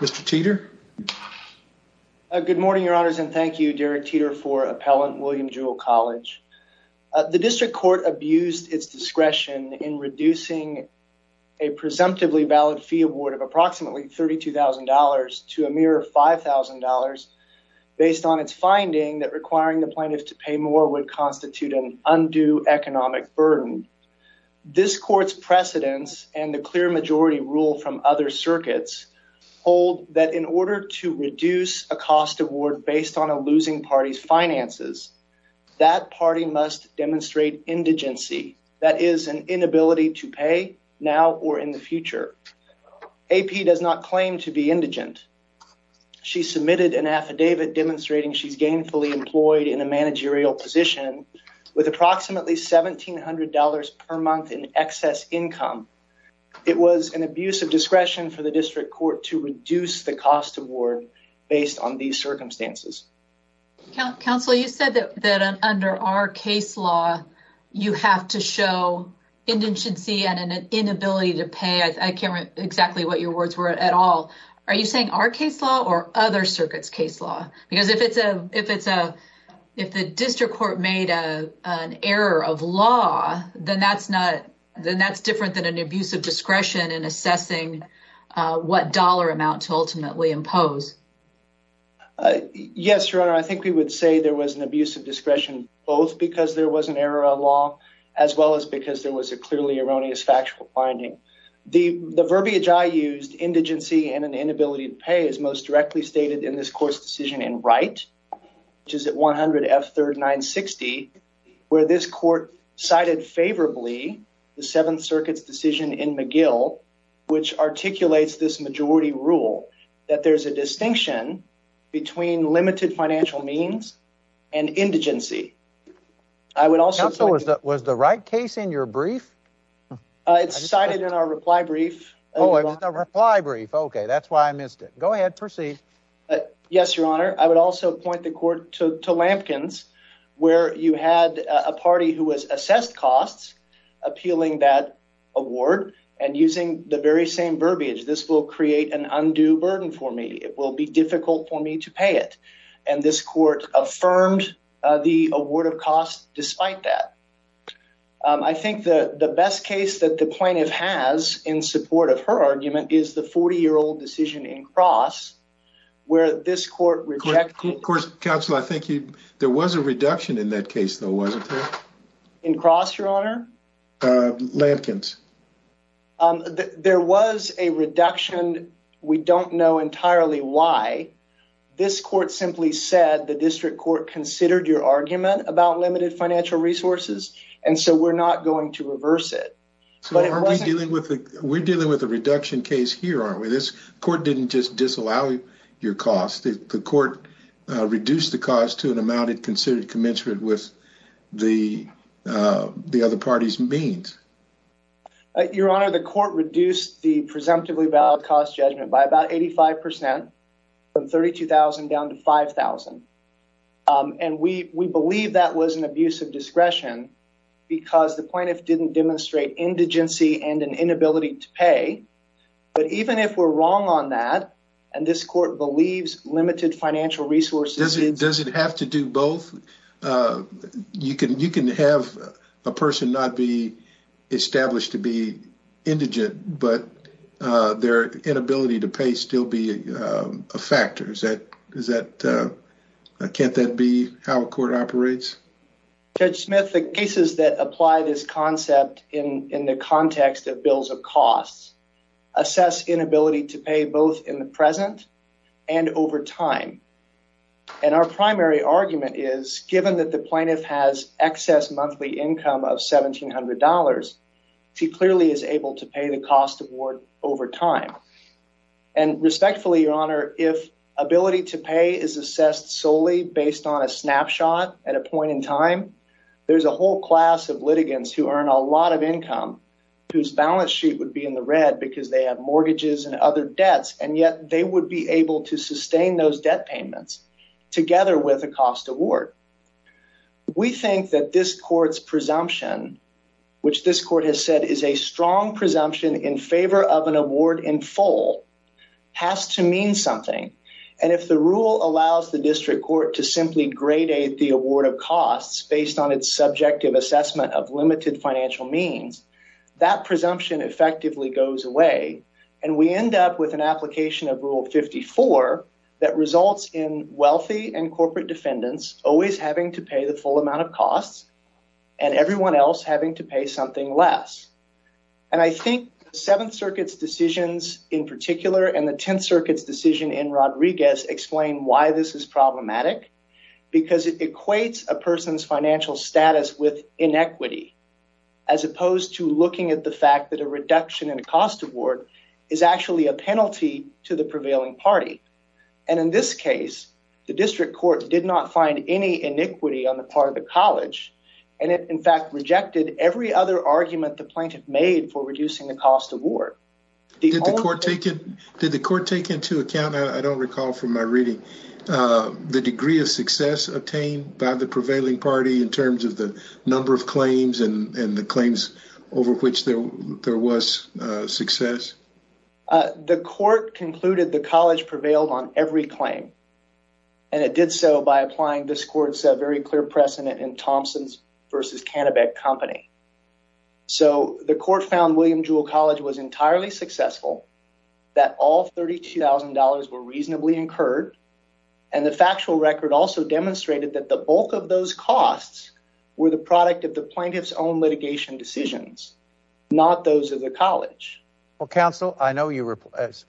Mr. Teeter. Good morning, Your Honors, and thank you, Derek Teeter, for Appellant William Jewell College. The District Court abused its discretion in reducing a presumptively valid fee award of approximately $32,000 to a mere $5,000 based on its finding that requiring the plaintiff to pay more would constitute an undue economic burden. This Court's precedence and the clear majority rule from other circuits hold that in order to reduce a cost award based on a losing party's finances, that party must demonstrate indigency, that is, an inability to pay, now or in the future. A.P. does not claim to be indigent. She submitted an affidavit demonstrating she's gainfully employed in a managerial position with approximately $1,700 per month in excess income. It was an abuse of discretion for the District Court to reduce the cost award based on these circumstances. Counsel, you said that under our case law, you have to show indigency and an inability to pay. I can't remember exactly what your words were at all. Are you saying our case law or other circuits' case law? Because if the District Court made an error of law, then that's different than an abuse of discretion in assessing what dollar amount to ultimately impose. Yes, Your Honor. I think we would say there was an abuse of discretion both because there was an error of law as well as because there was a clearly erroneous factual finding. The verbiage I used, indigency and an inability to pay, is most directly stated in this Court's decision in Wright, which is at 100 F. 3rd 960, where this Court cited favorably the Seventh Circuit's decision in McGill, which articulates this majority rule that there's a distinction between limited financial means and indigency. I would also... Counsel, was the Wright case in your brief? It's cited in our reply brief. Oh, okay. That's why I missed it. Go ahead. Proceed. Yes, Your Honor. I would also point the Court to Lampkins, where you had a party who has assessed costs appealing that award and using the very same verbiage, this will create an undue burden for me. It will be difficult for me to pay it. And this Court affirmed the award of costs despite that. I think the best case that the plaintiff has in support of her argument is the 40-year-old decision in Cross, where this Court rejected... Of course, Counsel, I think there was a reduction in that case, though, wasn't there? In Cross, Your Honor? Lampkins. There was a reduction. We don't know entirely why. This Court simply said the District Court considered your argument about limited financial resources, and so we're not going to reverse it. So we're dealing with a reduction case here, aren't we? This Court didn't just disallow your cost. The Court reduced the cost to an amount it considered commensurate with the other party's means. Your Honor, the Court reduced the presumptively valid cost judgment by about 85 percent, from $32,000 down to $5,000. And we believe that was an abuse of discretion because the plaintiff didn't demonstrate indigency and an inability to pay. But even if we're wrong on that, and this Court believes limited financial resources... Does it have to do both? You can have a person not be established to be indigent, but their inability to pay still be a factor. Can't that be how a court operates? Judge Smith, the cases that apply this concept in the context of bills of costs assess inability to pay both in the present and over time. And our primary argument is, given that the plaintiff has excess monthly income of $1,700, she clearly is able to pay the cost of war over time. And respectfully, Your Honor, if ability to pay is assessed solely based on a snapshot at a point in time, there's a whole class of litigants who earn a lot of income whose balance sheet would be in the red because they have mortgages and other debts, and yet they would be able to sustain those debt payments together with a cost award. We think that this Court's presumption, which this Court has said is a strong presumption in favor of an award in full, has to mean something. And if the rule allows the district court to simply gradate the award of costs based on its subjective assessment of limited financial means, that presumption effectively goes away, and we end up with an application of Rule 54 that results in wealthy and corporate defendants always having to pay the full amount of costs and everyone else having to pay something less. And I think the Seventh Circuit's decisions in particular and the Tenth Circuit's decision in Rodriguez explain why this is problematic, because it equates a person's financial status with inequity, as opposed to looking at the fact that a reduction in a cost award is actually a penalty to the prevailing party. And in this case, the district court did not find any inequity on the part of the College, and it in fact rejected every other argument the plaintiff made for reducing the cost award. Did the Court take into account, I don't recall from my reading, the degree of success obtained by the prevailing party in terms of the number of claims and and the claims over which there was success? The Court concluded the College prevailed on every claim, and it did so by applying this Court's very clear precedent in Thompson's v. Canabec Company. So the Court found William Jewell College was entirely successful, that all $32,000 were reasonably incurred, and the factual record also demonstrated that the bulk of those costs were the product of the plaintiff's own litigation decisions, not those of the College. Well, counsel, I know you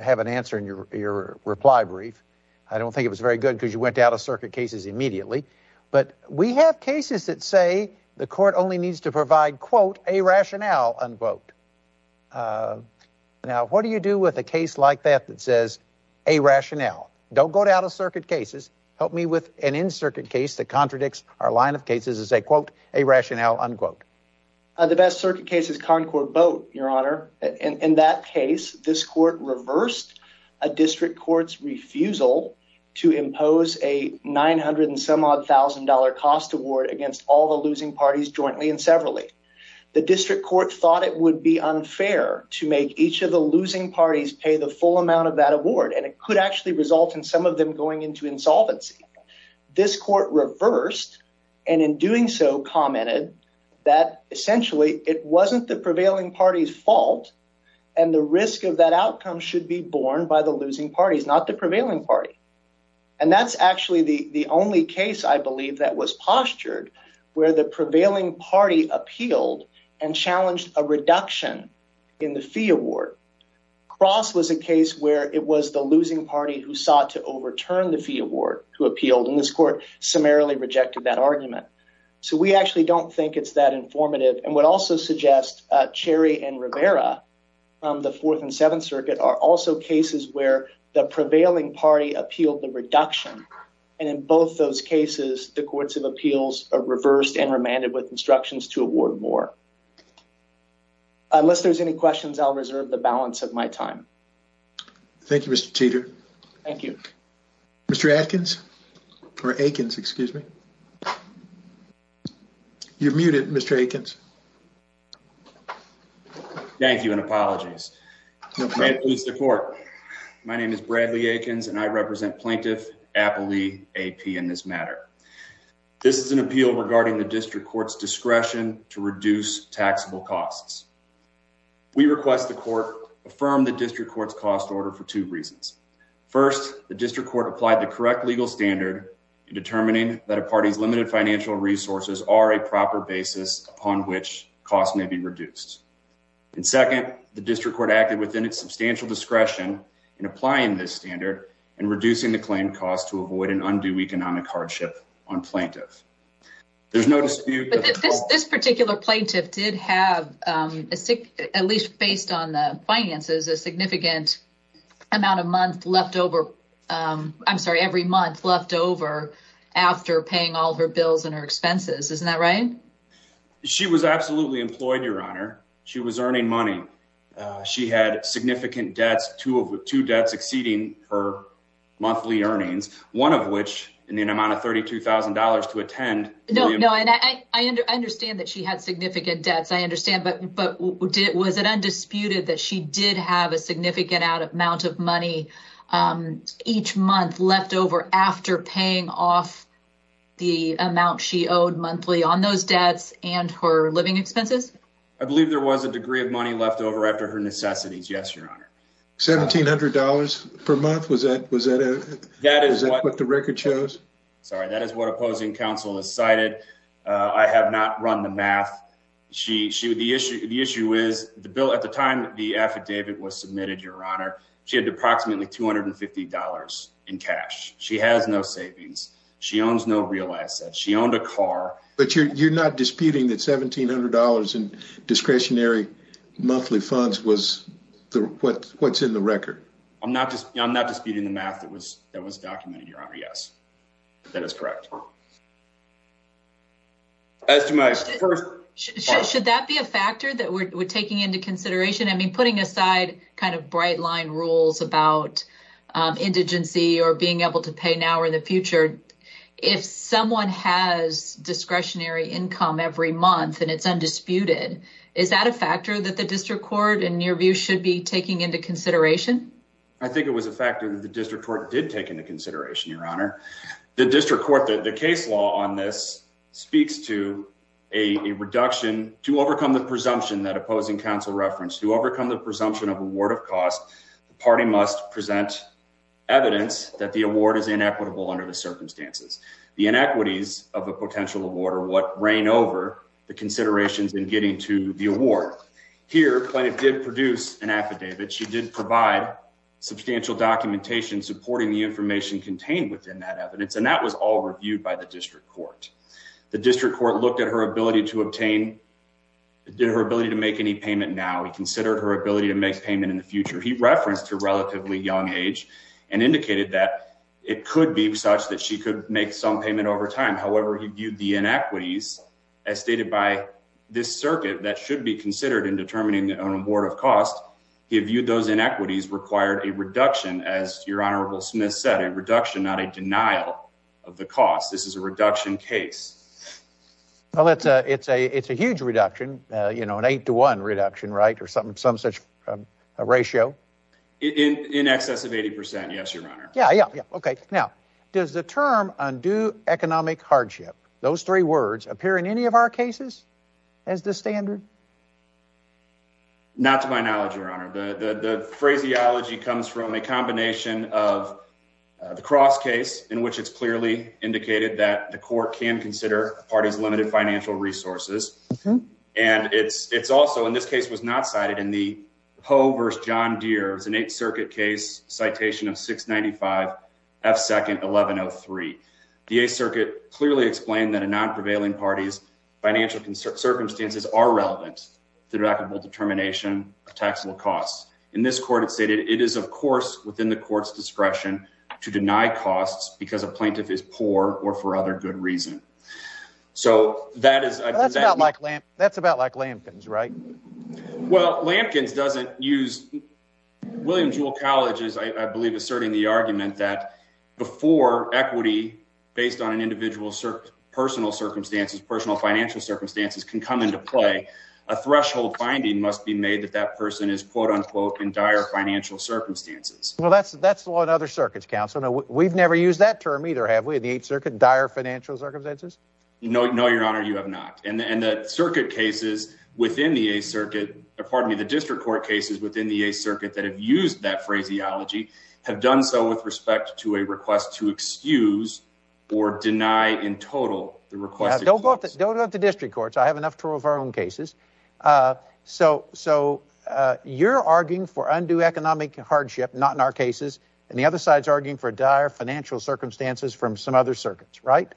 have an answer in your reply brief. I don't think it was very good, because you went to out-of-circuit cases immediately. But we have cases that say the Court only needs to provide, quote, a rationale, unquote. Now, what do you do with a case like that that says, a rationale? Don't go to out-of-circuit cases. Help me with an in-circuit case that contradicts our line of cases and say, quote, a rationale, unquote. The best circuit case is Concord Boat, Your Honor. In that case, this Court reversed a district court's refusal to impose a $900-and-some-odd-thousand-dollar cost award against all the losing parties jointly and severally. The district court thought it would be unfair to make each of the losing parties pay the full amount of that award, and it could actually result in some going into insolvency. This Court reversed and in doing so commented that essentially it wasn't the prevailing party's fault, and the risk of that outcome should be borne by the losing parties, not the prevailing party. And that's actually the only case, I believe, that was postured where the prevailing party appealed and challenged a reduction in the fee award. Cross was a case where it was the losing party who sought to overturn the fee award who appealed, and this Court summarily rejected that argument. So we actually don't think it's that informative, and would also suggest Cherry and Rivera from the Fourth and Seventh Circuit are also cases where the prevailing party appealed the reduction. And in both those cases, the courts of appeals are reversed and remanded with instructions to award more. Unless there's any questions, I'll reserve the balance of my time. Thank you, Mr. Teeter. Thank you. Mr. Atkins, or Aikens, excuse me. You're muted, Mr. Aikens. Thank you, and apologies. My name is Bradley Aikens, and I represent Plaintiff Appley AP in this matter. This is an appeal regarding the District Court's discretion to reduce taxable costs. We request the Court affirm the District Court's cost order for two reasons. First, the District Court applied the correct legal standard in determining that a party's limited financial resources are a proper basis upon which costs may be reduced. And second, the District Court acted within its substantial discretion in applying this standard and reducing the claim cost to avoid an undue economic hardship on plaintiffs. There's no dispute— This particular plaintiff did have, at least based on the finances, a significant amount of month left over. I'm sorry, every month left over after paying all her bills and her expenses. Isn't that right? She was absolutely employed, Your Honor. She was earning money. She had significant debts, two debts exceeding her monthly earnings, one of which in the amount of $32,000 to attend. No, no, and I understand that she had significant debts. I understand, but was it undisputed that she did have a significant amount of money each month left over after paying off the amount she owed monthly on those debts and her living expenses? I believe there was a degree of money left over after her necessities, yes, Your Honor. $1,700 per month? Was that what the record shows? Sorry, that is what opposing counsel has cited. I have not run the math. The issue is, at the time the affidavit was submitted, Your Honor, she had approximately $250 in cash. She has no savings. She owns no real assets. She owned a car. But you're not disputing that $1,700 in the record? I'm not disputing the math that was documented, Your Honor. Yes, that is correct. Should that be a factor that we're taking into consideration? I mean, putting aside kind of bright line rules about indigency or being able to pay now or in the future, if someone has discretionary income every month and it's undisputed, is that a factor that the District Court should take into consideration? I think it was a factor that the District Court did take into consideration, Your Honor. The District Court, the case law on this speaks to a reduction to overcome the presumption that opposing counsel referenced. To overcome the presumption of award of cost, the party must present evidence that the award is inequitable under the circumstances. The inequities of a potential award are what reign over considerations in getting to the award. Here, Plaintiff did produce an affidavit. She did provide substantial documentation supporting the information contained within that evidence, and that was all reviewed by the District Court. The District Court looked at her ability to obtain, did her ability to make any payment now. He considered her ability to make payment in the future. He referenced her relatively young age and indicated that it could be such that she could make some payment over time. However, he viewed the inequities as stated by this circuit that should be considered in determining an award of cost. He viewed those inequities required a reduction, as Your Honorable Smith said, a reduction, not a denial of the cost. This is a reduction case. Well, it's a huge reduction, you know, an eight to one reduction, right, or some such ratio. In excess of 80 percent, yes, Your Honor. Yeah, yeah, okay. Now, does the term undue economic hardship, those three words, appear in any of our cases as the standard? Not to my knowledge, Your Honor. The phraseology comes from a combination of the Cross case, in which it's clearly indicated that the court can consider a party's limited financial resources. And it's also, in this case, was not cited in the Poe v. John Deere. It's an Eighth Circuit case, citation of 695 F. Second, 1103. The Eighth Circuit clearly explained that in non-prevailing parties, financial circumstances are relevant to deductible determination of taxable costs. In this court, it stated, it is, of course, within the court's discretion to deny costs because a plaintiff is That's about like Lampkin's, right? Well, Lampkin's doesn't use, William Jewell College is, I believe, asserting the argument that before equity, based on an individual's personal circumstances, personal financial circumstances, can come into play, a threshold finding must be made that that person is, quote unquote, in dire financial circumstances. Well, that's that's the law in other circuits, counsel. Now, we've never used that term either, have we, in the Eighth Circuit, dire financial circumstances? No, Your Honor, you have not. And the circuit cases within the Eighth Circuit, pardon me, the district court cases within the Eighth Circuit that have used that phraseology have done so with respect to a request to excuse or deny in total the request. Don't go to the district courts. I have enough of our own cases. So you're arguing for undue economic hardship, not in our cases, and the other side's arguing for dire financial circumstances from some other circuits, right?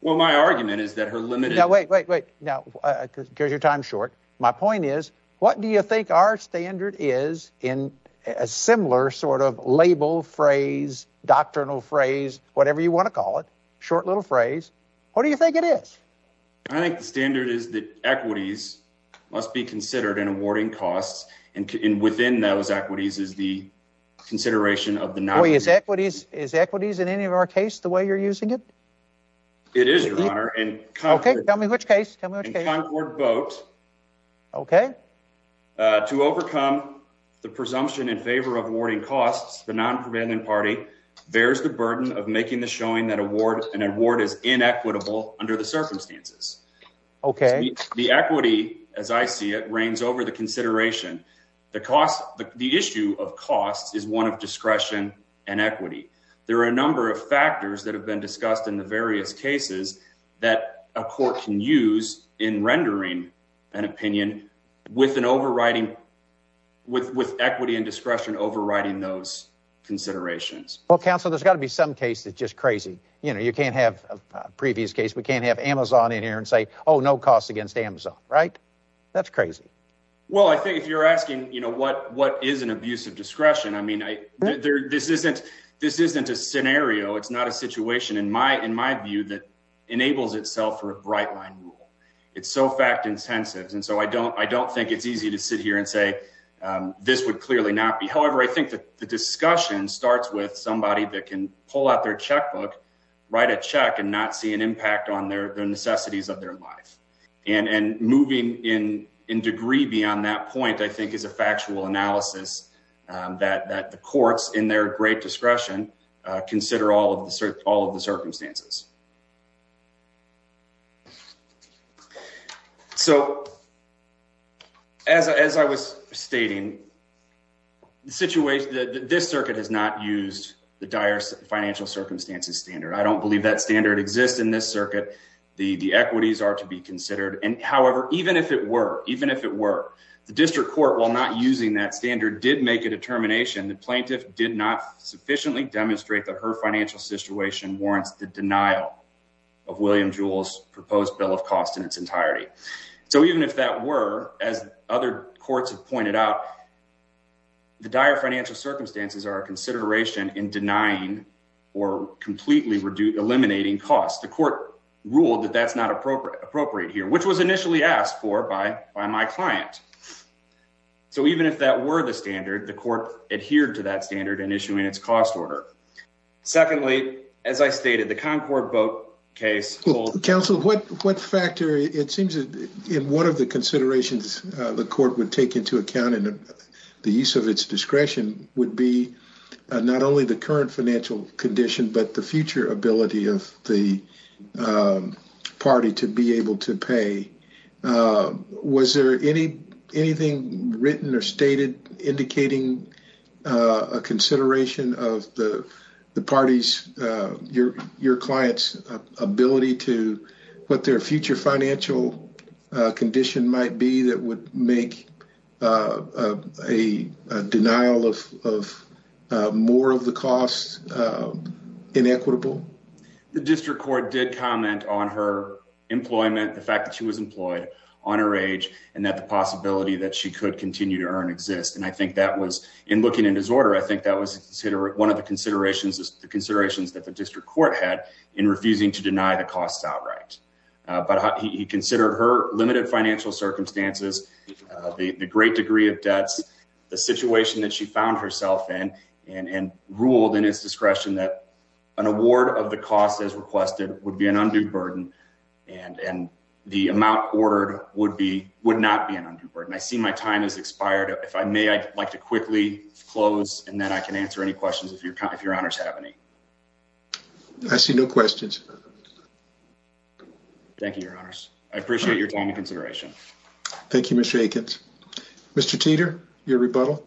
Well, my argument is that her Wait, wait, wait. Now, because your time's short, my point is, what do you think our standard is in a similar sort of label, phrase, doctrinal phrase, whatever you want to call it? Short little phrase. What do you think it is? I think the standard is that equities must be considered in awarding costs. And within those equities is the consideration of the non-equity. Is equities in any of our case the way you're using it? It is, Your Honor. In Concord Boat, to overcome the presumption in favor of awarding costs, the non-prevailing party bears the burden of making the showing that an award is inequitable under the circumstances. The equity, as I see it, reigns over the consideration. The issue of costs is one discretion and equity. There are a number of factors that have been discussed in the various cases that a court can use in rendering an opinion with an overriding, with equity and discretion overriding those considerations. Well, counsel, there's got to be some case that's just crazy. You know, you can't have a previous case. We can't have Amazon in here and say, oh, no costs against Amazon, right? That's crazy. Well, I think if you're asking, you know, what is an abusive discretion? I mean, this isn't a scenario. It's not a situation in my view that enables itself for a bright line rule. It's so fact intensive. And so I don't think it's easy to sit here and say this would clearly not be. However, I think that the discussion starts with somebody that can pull out their checkbook, write a check and not see an impact on their necessities of their life. And moving in degree beyond that point, I think is a factual analysis that the courts in their great discretion consider all of the circumstances. So as I was stating, the situation that this circuit has not used the dire financial standard. I don't believe that standard exists in this circuit. The equities are to be considered. And however, even if it were, even if it were, the district court, while not using that standard, did make a determination. The plaintiff did not sufficiently demonstrate that her financial situation warrants the denial of William Jules proposed bill of cost in its entirety. So even if that were, as other courts have pointed out, the dire financial circumstances are a consideration in denying or completely reduce eliminating costs. The court ruled that that's not appropriate, appropriate here, which was initially asked for by, by my client. So even if that were the standard, the court adhered to that standard and issuing its cost order. Secondly, as I stated, the Concord boat case council, what, what factor it seems in one of the considerations the court would take into account and the use of its discretion would be not only the current financial condition, but the future ability of the party to be able to pay. Was there any, anything written or stated indicating a consideration of the parties, your clients ability to what their future financial condition might be that would make a denial of, of more of the costs inequitable. The district court did comment on her employment, the fact that she was employed on her age and that the possibility that she could continue to earn exist. And I think that was in looking at his order. I think that was considered one of the considerations is the considerations that the district court had in refusing to deny the costs outright. But he considered her limited financial circumstances, the great degree of debts, the situation that she found herself in and, and ruled in his discretion that an award of the cost as requested would be an undue burden. And, and the amount ordered would be, would not be an undue burden. I see my time has expired. If I may, I'd like to quickly close and then I can go. Thank you, your honors. I appreciate your time and consideration. Thank you, Mr. Akins, Mr. Teeter, your rebuttal.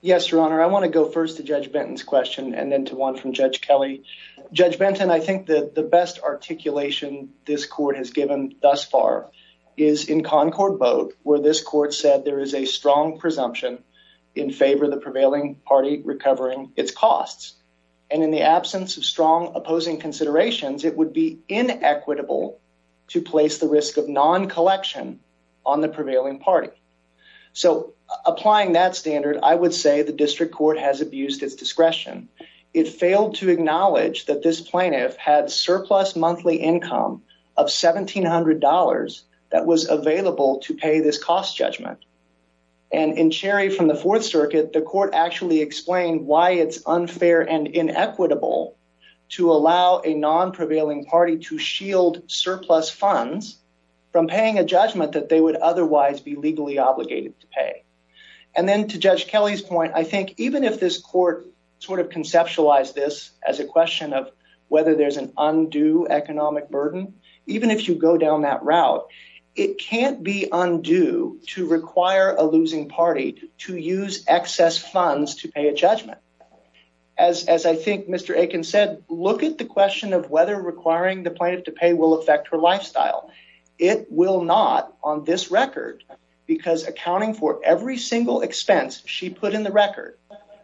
Yes, your honor. I want to go first to judge Benton's question and then to one from judge Kelly, judge Benton. I think that the best articulation this court has given thus far is in Concord boat, where this court said there is a strong presumption in favor of the prevailing party recovering its costs. And in the absence of strong opposing considerations, it would be inequitable to place the risk of non-collection on the prevailing party. So applying that standard, I would say the district court has abused its discretion. It failed to acknowledge that this plaintiff had surplus monthly income of $1,700 that was available to pay this cost judgment. And in Cherry from the fourth circuit, the court actually explained why it's unfair and inequitable to allow a non-prevailing party to shield surplus funds from paying a judgment that they would otherwise be legally obligated to pay. And then to judge Kelly's point, I think even if this court sort of conceptualized this as a question of whether there's an undue economic burden, even if you go down that route, it can't be undue to require a losing party to use excess funds to pay a judgment. As I think Mr. Aiken said, look at the question of whether requiring the plaintiff to pay will affect her lifestyle. It will not on this record because accounting for every single expense she put in the record,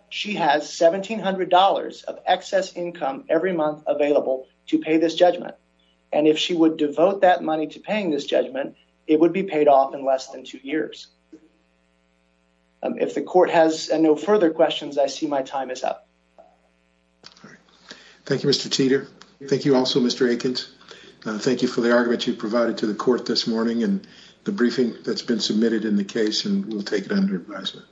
she has $1,700 of excess income every month available to pay this judgment. And if she would devote that money to paying this judgment, it would be paid off in less than two years. If the court has no further questions, I see my time is up. Thank you, Mr. Teeter. Thank you also, Mr. Aikens. Thank you for the argument you provided to the court this morning and the briefing that's been submitted in the case and we'll take it under advisement.